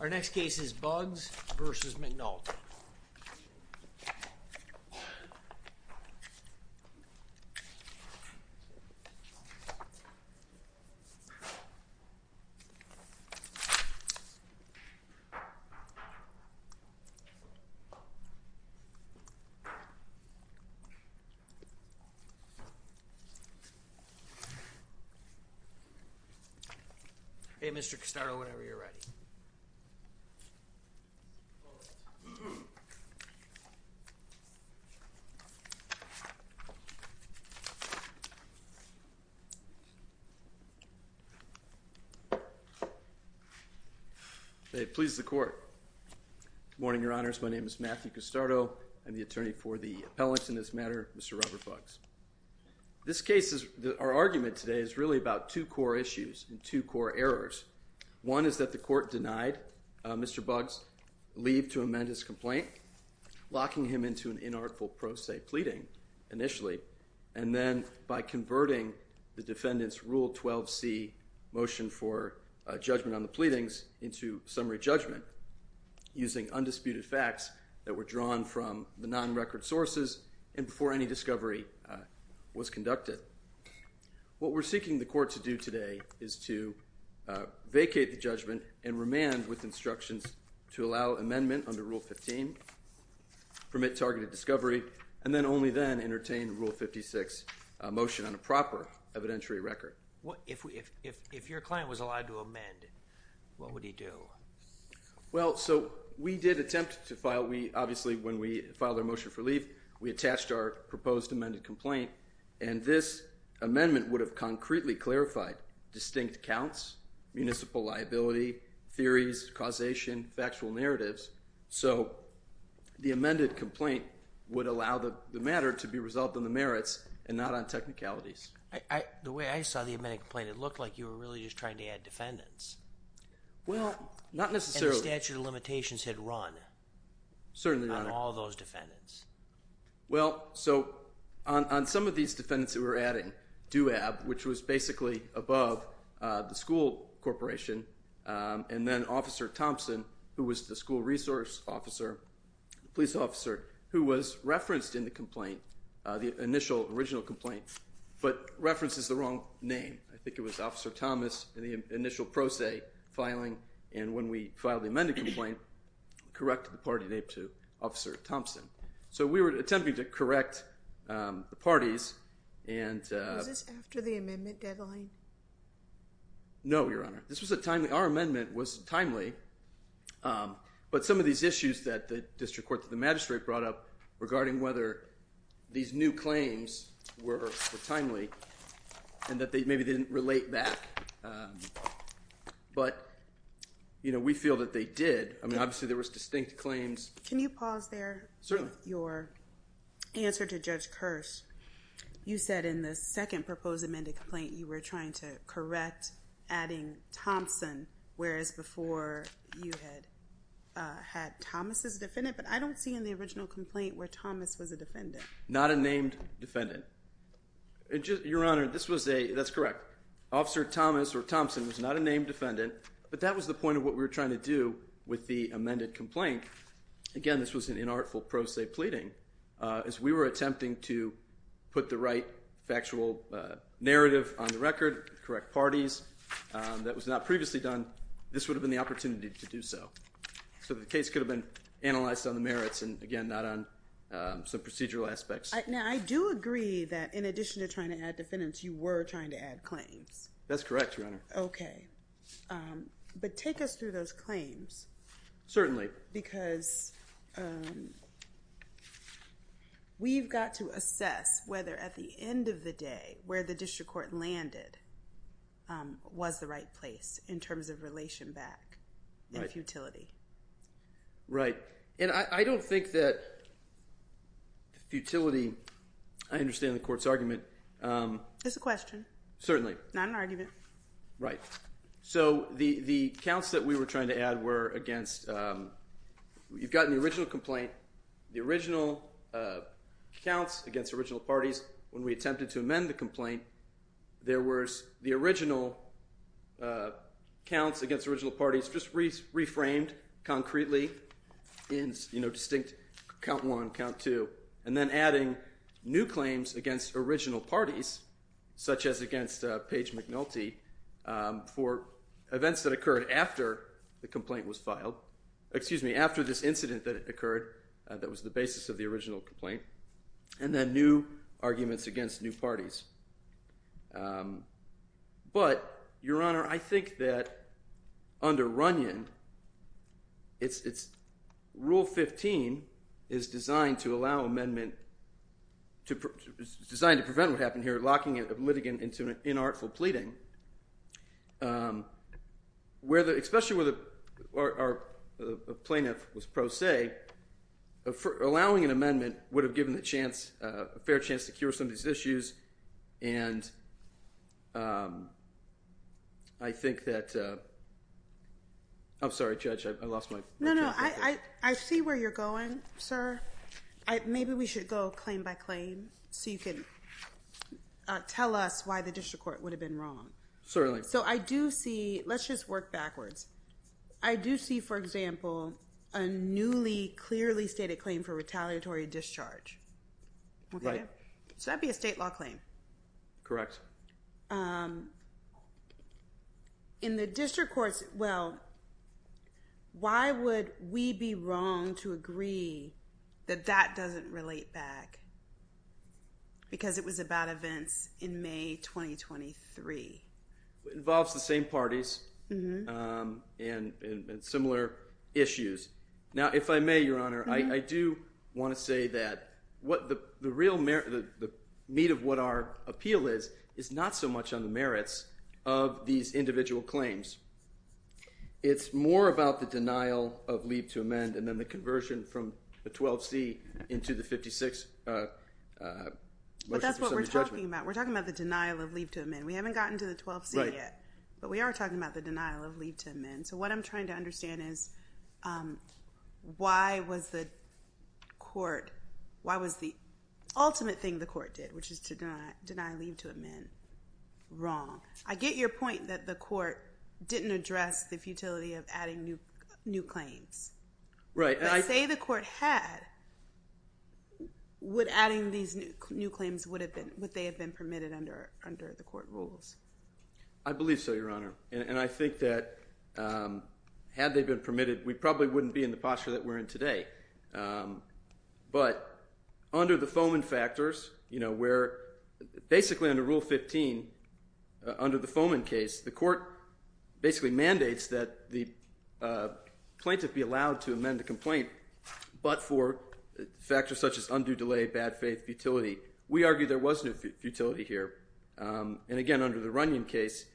Our next case is Buggs v. McNulty. Buggs v. McNulty Buggs v. McNulty They please the court. Good morning, your honors. My name is Matthew Costardo. I'm the attorney for the appellant in this matter, Mr. Robert Buggs. This case is – our argument today is really about two core issues and two core errors. One is that the court denied Mr. Buggs' leave to amend his complaint, locking him into an inartful pro se pleading initially, and then by converting the defendant's Rule 12c motion for judgment on the pleadings into summary judgment using undisputed facts that were drawn from the non-record sources and before any discovery was conducted. What we're seeking the court to do today is to vacate the judgment and remand with instructions to allow amendment under Rule 15, permit targeted discovery, and then only then entertain Rule 56 motion on a proper evidentiary record. If your client was allowed to amend, what would he do? Well, so we did attempt to file – obviously, when we filed our motion for leave, we attached our proposed amended complaint, and this amendment would have concretely clarified distinct counts, municipal liability, theories, causation, factual narratives. So the amended complaint would allow the matter to be resolved on the merits and not on technicalities. The way I saw the amended complaint, it looked like you were really just trying to add defendants. Well, not necessarily. And the statute of limitations had run on all those defendants. Well, so on some of these defendants that we're adding, DUAB, which was basically above the school corporation, and then Officer Thompson, who was the school resource officer, police officer, who was referenced in the complaint, the initial original complaint, but references the wrong name. I think it was Officer Thomas in the initial pro se filing, and when we filed the amended complaint, corrected the party name to Officer Thompson. So we were attempting to correct the parties. Was this after the amendment deadline? No, Your Honor. This was a timely – our amendment was timely, but some of these issues that the district court, the magistrate brought up regarding whether these new claims were timely and that maybe they didn't relate back. But, you know, we feel that they did. I mean, obviously there was distinct claims. Can you pause there? Certainly. Your answer to Judge Kirsch. You said in the second proposed amended complaint you were trying to correct adding Thompson, whereas before you had had Thomas as a defendant. But I don't see in the original complaint where Thomas was a defendant. Not a named defendant. Your Honor, this was a – that's correct. Officer Thomas or Thompson was not a named defendant, but that was the point of what we were trying to do with the amended complaint. Again, this was an inartful pro se pleading, as we were attempting to put the right factual narrative on the record, correct parties. That was not previously done. This would have been the opportunity to do so. So the case could have been analyzed on the merits and, again, not on some procedural aspects. Now, I do agree that in addition to trying to add defendants, you were trying to add claims. That's correct, Your Honor. Okay. But take us through those claims. Certainly. Because we've got to assess whether at the end of the day where the district court landed was the right place in terms of relation back and futility. Right. And I don't think that futility – I understand the court's argument. It's a question. Certainly. Not an argument. Right. So the counts that we were trying to add were against – you've gotten the original complaint. The original counts against original parties, when we attempted to amend the complaint, there was the original counts against original parties just reframed concretely in distinct count one, count two, and then adding new claims against original parties, such as against Paige McNulty, for events that occurred after the complaint was filed – excuse me, after this incident that occurred that was the basis of the original complaint, and then new arguments against new parties. But, Your Honor, I think that under Runyon, Rule 15 is designed to allow amendment – designed to prevent what happened here, locking a litigant into an inartful pleading. Especially where the plaintiff was pro se, allowing an amendment would have given the chance – a fair chance to cure some of these issues. And I think that – I'm sorry, Judge. I lost my – No, no. I see where you're going, sir. Maybe we should go claim by claim so you can tell us why the district court would have been wrong. So I do see – let's just work backwards. I do see, for example, a newly clearly stated claim for retaliatory discharge. Right. So that would be a state law claim. Correct. In the district courts – well, why would we be wrong to agree that that doesn't relate back because it was about events in May 2023? It involves the same parties and similar issues. Now, if I may, Your Honor, I do want to say that what the real – the meat of what our appeal is is not so much on the merits of these individual claims. It's more about the denial of leave to amend and then the conversion from the 12C into the 56 motion for summary judgment. But that's what we're talking about. We're talking about the denial of leave to amend. We haven't gotten to the 12C yet. Right. But we are talking about the denial of leave to amend. So what I'm trying to understand is why was the court – why was the ultimate thing the court did, which is to deny leave to amend, wrong? I get your point that the court didn't address the futility of adding new claims. Right. But say the court had, would adding these new claims would have been – would they have been permitted under the court rules? I believe so, Your Honor. And I think that had they been permitted, we probably wouldn't be in the posture that we're in today. But under the Fomen factors, where basically under Rule 15, under the Fomen case, the court basically mandates that the plaintiff be allowed to amend the complaint, but for factors such as undue delay, bad faith, futility. We argue there was no futility here. And again, under the Runyon case,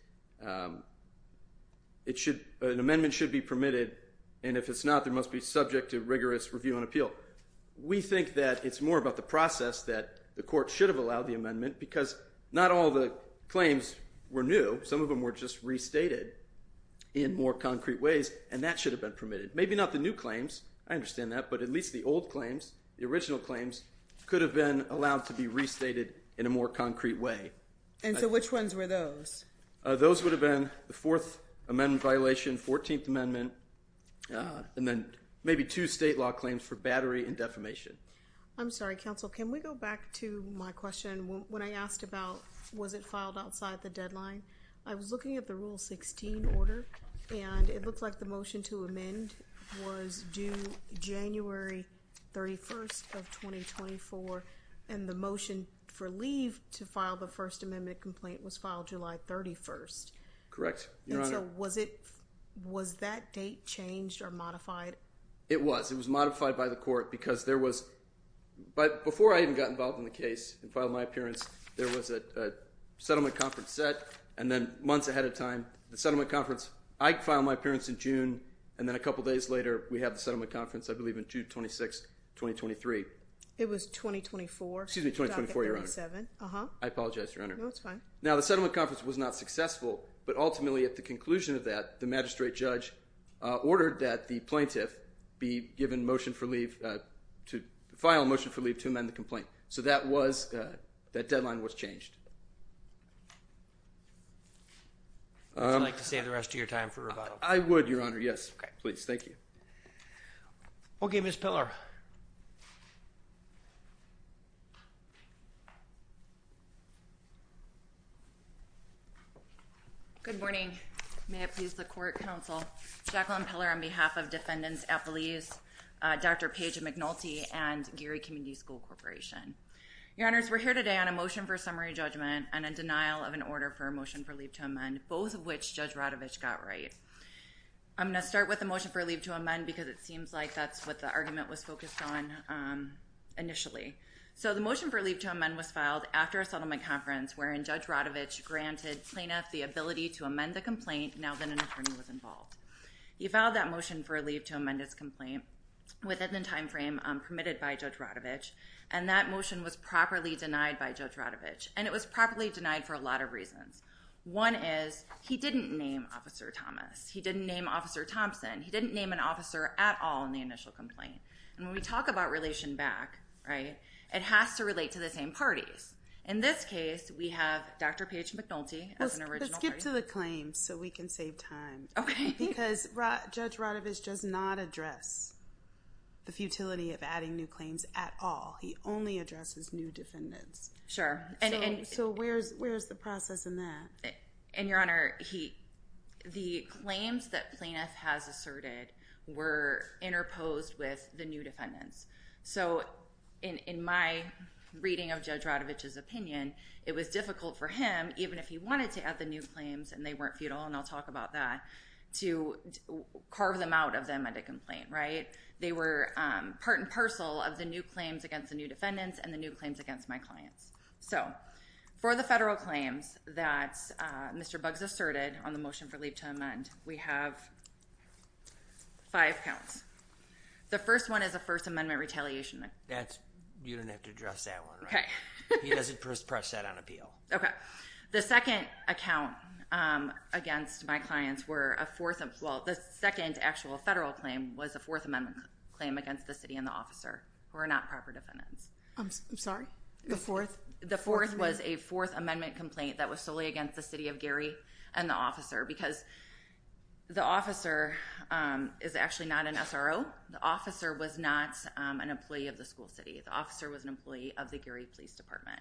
it should – an amendment should be permitted, and if it's not, they must be subject to rigorous review and appeal. We think that it's more about the process that the court should have allowed the amendment because not all the claims were new. Some of them were just restated in more concrete ways, and that should have been permitted. Maybe not the new claims. I understand that. But at least the old claims, the original claims, could have been allowed to be restated in a more concrete way. And so which ones were those? Those would have been the Fourth Amendment violation, 14th Amendment, and then maybe two state law claims for battery and defamation. I'm sorry, counsel. Can we go back to my question when I asked about was it filed outside the deadline? I was looking at the Rule 16 order, and it looked like the motion to amend was due January 31st of 2024, and the motion for leave to file the First Amendment complaint was filed July 31st. Correct, Your Honor. And so was it – was that date changed or modified? It was. It was modified by the court because there was – before I even got involved in the case and filed my appearance, there was a settlement conference set, and then months ahead of time, the settlement conference. I filed my appearance in June, and then a couple days later we have the settlement conference, I believe, on June 26th, 2023. It was 2024. Excuse me, 2024, Your Honor. 37. I apologize, Your Honor. No, it's fine. Now, the settlement conference was not successful, but ultimately at the conclusion of that, the magistrate judge ordered that the plaintiff be given motion for leave to file a motion for leave to amend the complaint. So that was – that deadline was changed. Would you like to save the rest of your time for rebuttal? I would, Your Honor. Yes, please. Thank you. Okay, Ms. Piller. Good morning. May it please the court, counsel. Jacqueline Piller on behalf of Defendants at Belize, Dr. Paige McNulty, and Geary Community School Corporation. Your Honors, we're here today on a motion for summary judgment and a denial of an order for a motion for leave to amend, both of which Judge Radovich got right. I'm going to start with the motion for leave to amend because it seems like that's what the argument was focused on initially. So the motion for leave to amend was filed after a settlement conference wherein Judge Radovich granted plaintiff the ability to amend the complaint now that an attorney was involved. He filed that motion for leave to amend his complaint within the timeframe permitted by Judge Radovich, and that motion was properly denied by Judge Radovich, and it was properly denied for a lot of reasons. One is he didn't name Officer Thomas. He didn't name Officer Thompson. He didn't name an officer at all in the initial complaint. And when we talk about relation back, right, it has to relate to the same parties. In this case, we have Dr. Paige McNulty as an original party. Let's skip to the claims so we can save time. Okay. Because Judge Radovich does not address the futility of adding new claims at all. He only addresses new defendants. Sure. So where's the process in that? And, Your Honor, the claims that plaintiff has asserted were interposed with the new defendants. So in my reading of Judge Radovich's opinion, it was difficult for him, even if he wanted to add the new claims and they weren't futile, and I'll talk about that, to carve them out of the amended complaint, right? They were part and parcel of the new claims against the new defendants and the new claims against my clients. So for the federal claims that Mr. Buggs asserted on the motion for leave to amend, we have five counts. The first one is a First Amendment retaliation. That's – you don't have to address that one, right? Okay. He doesn't press that on appeal. Okay. The second account against my clients were a fourth – well, the second actual federal claim was a Fourth Amendment claim against the city and the officer who are not proper defendants. I'm sorry? The fourth? The fourth was a Fourth Amendment complaint that was solely against the city of Gary and the officer because the officer is actually not an SRO. The officer was not an employee of the school city. The officer was an employee of the Gary Police Department.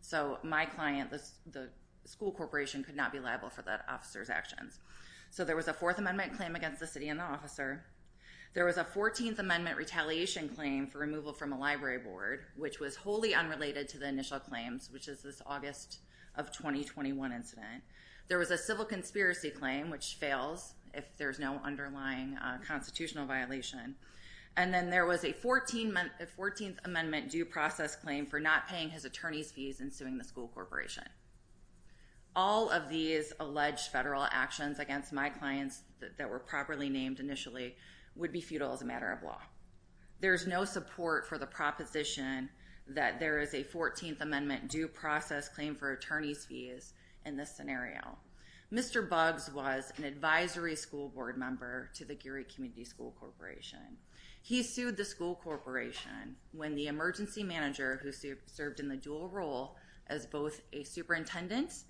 So my client, the school corporation, could not be liable for that officer's actions. So there was a Fourth Amendment claim against the city and the officer. There was a Fourteenth Amendment retaliation claim for removal from a library board, which was wholly unrelated to the initial claims, which is this August of 2021 incident. There was a civil conspiracy claim, which fails if there's no underlying constitutional violation. And then there was a Fourteenth Amendment due process claim for not paying his attorney's fees and suing the school corporation. All of these alleged federal actions against my clients that were properly named initially would be futile as a matter of law. There's no support for the proposition that there is a Fourteenth Amendment due process claim for attorney's fees in this scenario. Mr. Buggs was an advisory school board member to the Gary Community School Corporation. He sued the school corporation when the emergency manager, who served in the dual role as both a superintendent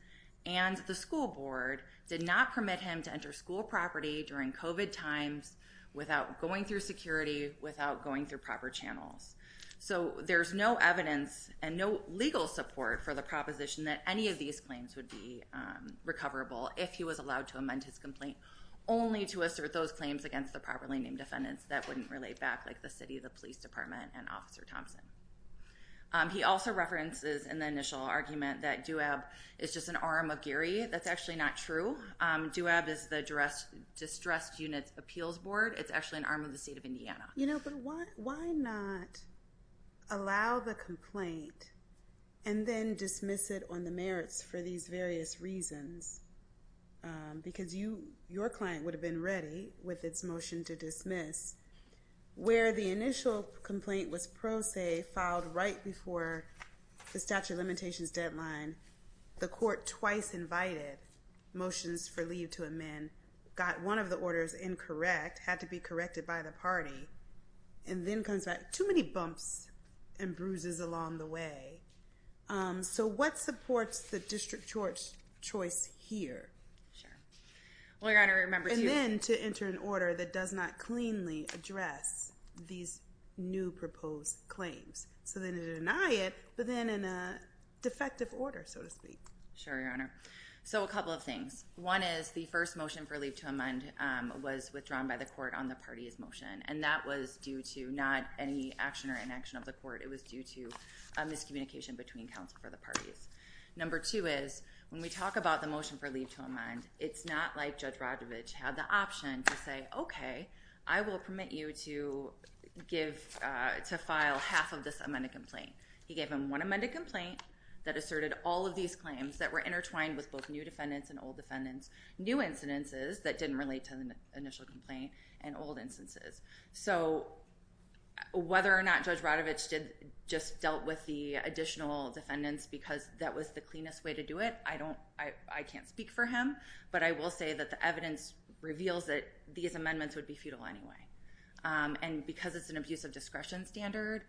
and the school board, did not permit him to enter school property during COVID times without going through security, without going through proper channels. So there's no evidence and no legal support for the proposition that any of these claims would be recoverable if he was allowed to amend his complaint, only to assert those claims against the properly named defendants that wouldn't relate back, like the city, the police department, and Officer Thompson. He also references in the initial argument that DUAB is just an arm of Gary. That's actually not true. DUAB is the Distressed Units Appeals Board. It's actually an arm of the state of Indiana. You know, but why not allow the complaint and then dismiss it on the merits for these various reasons? Because your client would have been ready with its motion to dismiss where the initial complaint was pro se, filed right before the statute of limitations deadline. The court twice invited motions for leave to amend, got one of the orders incorrect, had to be corrected by the party, and then comes back. Too many bumps and bruises along the way. So what supports the district court's choice here? Sure. And then to enter an order that does not cleanly address these new proposed claims. So then to deny it, but then in a defective order, so to speak. Sure, Your Honor. So a couple of things. One is the first motion for leave to amend was withdrawn by the court on the party's motion, and that was due to not any action or inaction of the court. It was due to a miscommunication between counsel for the parties. Number two is when we talk about the motion for leave to amend, it's not like Judge Radovich had the option to say, okay, I will permit you to file half of this amended complaint. He gave him one amended complaint that asserted all of these claims that were intertwined with both new defendants and old defendants, new incidences that didn't relate to the initial complaint and old instances. So whether or not Judge Radovich just dealt with the additional defendants because that was the cleanest way to do it, I can't speak for him, but I will say that the evidence reveals that these amendments would be futile anyway. And because it's an abuse of discretion standard,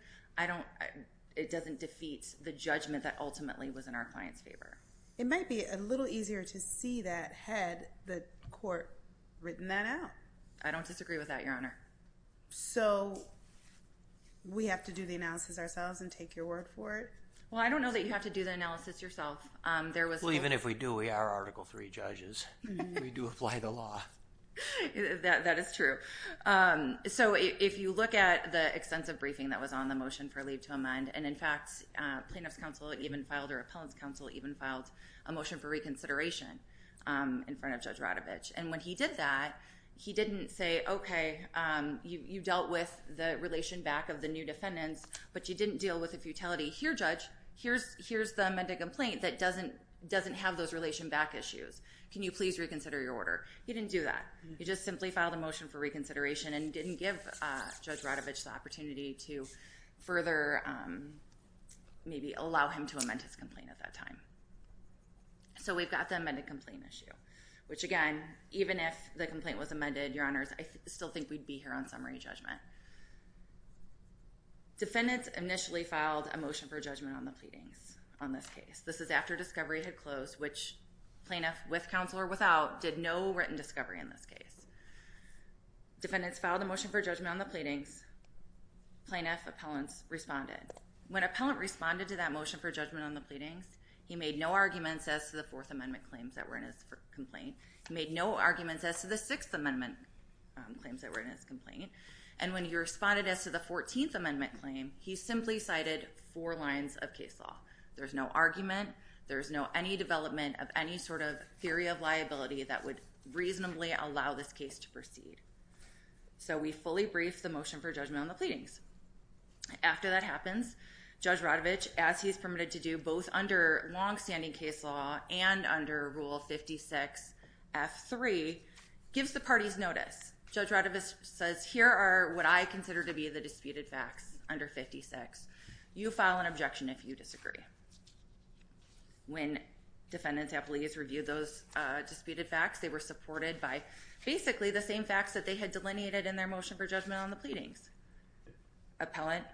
it doesn't defeat the judgment that ultimately was in our client's favor. It might be a little easier to see that had the court written that out. I don't disagree with that, Your Honor. So we have to do the analysis ourselves and take your word for it? Well, I don't know that you have to do the analysis yourself. Well, even if we do, we are Article III judges. We do apply the law. That is true. So if you look at the extensive briefing that was on the motion for leave to amend, and in fact plaintiff's counsel even filed or appellant's counsel even filed a motion for reconsideration in front of Judge Radovich. And when he did that, he didn't say, okay, you dealt with the relation back of the new defendants, but you didn't deal with the futility. Here, Judge, here's the amended complaint that doesn't have those relation back issues. Can you please reconsider your order? He didn't do that. He just simply filed a motion for reconsideration and didn't give Judge Radovich the opportunity to further maybe allow him to amend his complaint at that time. So we've got the amended complaint issue, which, again, even if the complaint was amended, Your Honors, I still think we'd be here on summary judgment. Defendants initially filed a motion for judgment on the pleadings on this case. This is after discovery had closed, which plaintiff, with counsel or without, did no written discovery in this case. Defendants filed a motion for judgment on the pleadings. Plaintiff appellants responded. When appellant responded to that motion for judgment on the pleadings, he made no arguments as to the Fourth Amendment claims that were in his complaint. He made no arguments as to the Sixth Amendment claims that were in his complaint. And when he responded as to the Fourteenth Amendment claim, he simply cited four lines of case law. There's no argument. There's no any development of any sort of theory of liability that would reasonably allow this case to proceed. So we fully briefed the motion for judgment on the pleadings. After that happens, Judge Radovich, as he is permitted to do, both under longstanding case law and under Rule 56F3, gives the parties notice. Judge Radovich says, here are what I consider to be the disputed facts under 56. You file an objection if you disagree. When defendants and pleas reviewed those disputed facts, they were supported by basically the same facts that they had delineated in their motion for judgment on the pleadings. Appellant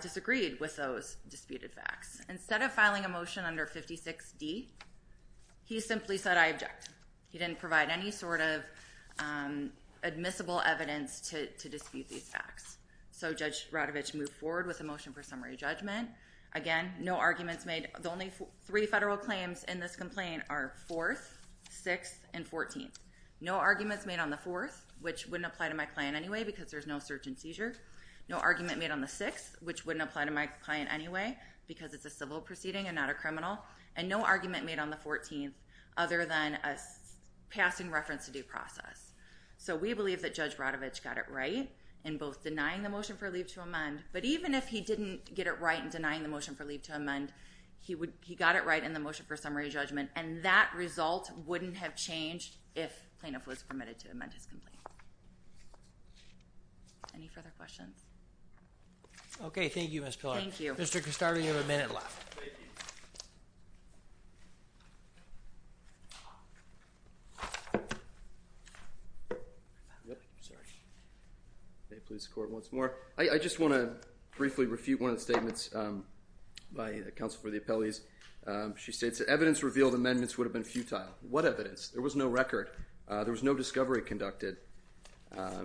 disagreed with those disputed facts. Instead of filing a motion under 56D, he simply said, I object. He didn't provide any sort of admissible evidence to dispute these facts. So Judge Radovich moved forward with a motion for summary judgment. Again, no arguments made. The only three federal claims in this complaint are Fourth, Sixth, and Fourteenth. No arguments made on the Fourth, which wouldn't apply to my client anyway because there's no search and seizure. No argument made on the Sixth, which wouldn't apply to my client anyway because it's a civil proceeding and not a criminal. And no argument made on the Fourteenth, other than a passing reference to due process. So we believe that Judge Radovich got it right in both denying the motion for leave to amend, but even if he didn't get it right in denying the motion for leave to amend, he got it right in the motion for summary judgment, and that result wouldn't have changed if plaintiff was permitted to amend his complaint. Any further questions? Okay, thank you, Ms. Pillard. Thank you. Mr. Castardi, you have a minute left. Thank you. May it please the Court once more. I just want to briefly refute one of the statements by the counsel for the appellees. She states that evidence revealed amendments would have been futile. What evidence? There was no record. There was no discovery conducted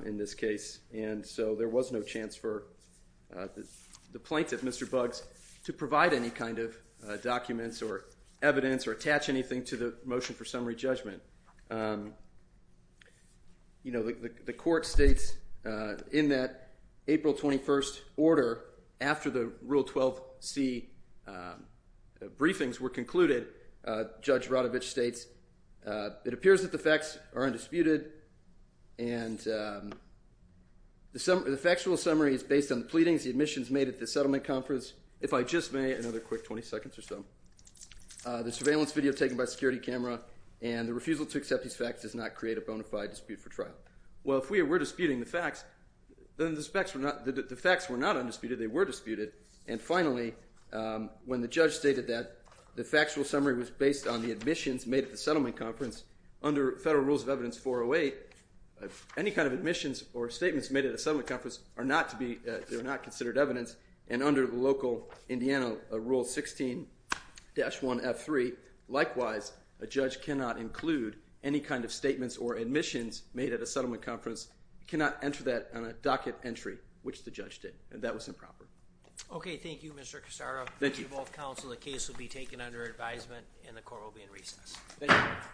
in this case, and so there was no chance for the plaintiff, Mr. Buggs, to provide any kind of documents or evidence or attach anything to the motion for summary judgment. You know, the Court states in that April 21st order, after the Rule 12c briefings were concluded, Judge Radovich states, it appears that the facts are undisputed, and the factual summary is based on the pleadings, the admissions made at the settlement conference. If I just may, another quick 20 seconds or so. The surveillance video taken by security camera and the refusal to accept these facts does not create a bona fide dispute for trial. Well, if we were disputing the facts, then the facts were not undisputed. They were disputed. And finally, when the judge stated that the factual summary was based on the admissions made at the settlement conference, under Federal Rules of Evidence 408, any kind of admissions or statements made at a settlement conference are not considered evidence, and under the local Indiana Rule 16-1F3, likewise, a judge cannot include any kind of statements or admissions made at a settlement conference, cannot enter that on a docket entry, which the judge did, and that was improper. Okay, thank you, Mr. Cassaro. Thank you. The case will be taken under advisement, and the Court will be in recess. Thank you. Thank you.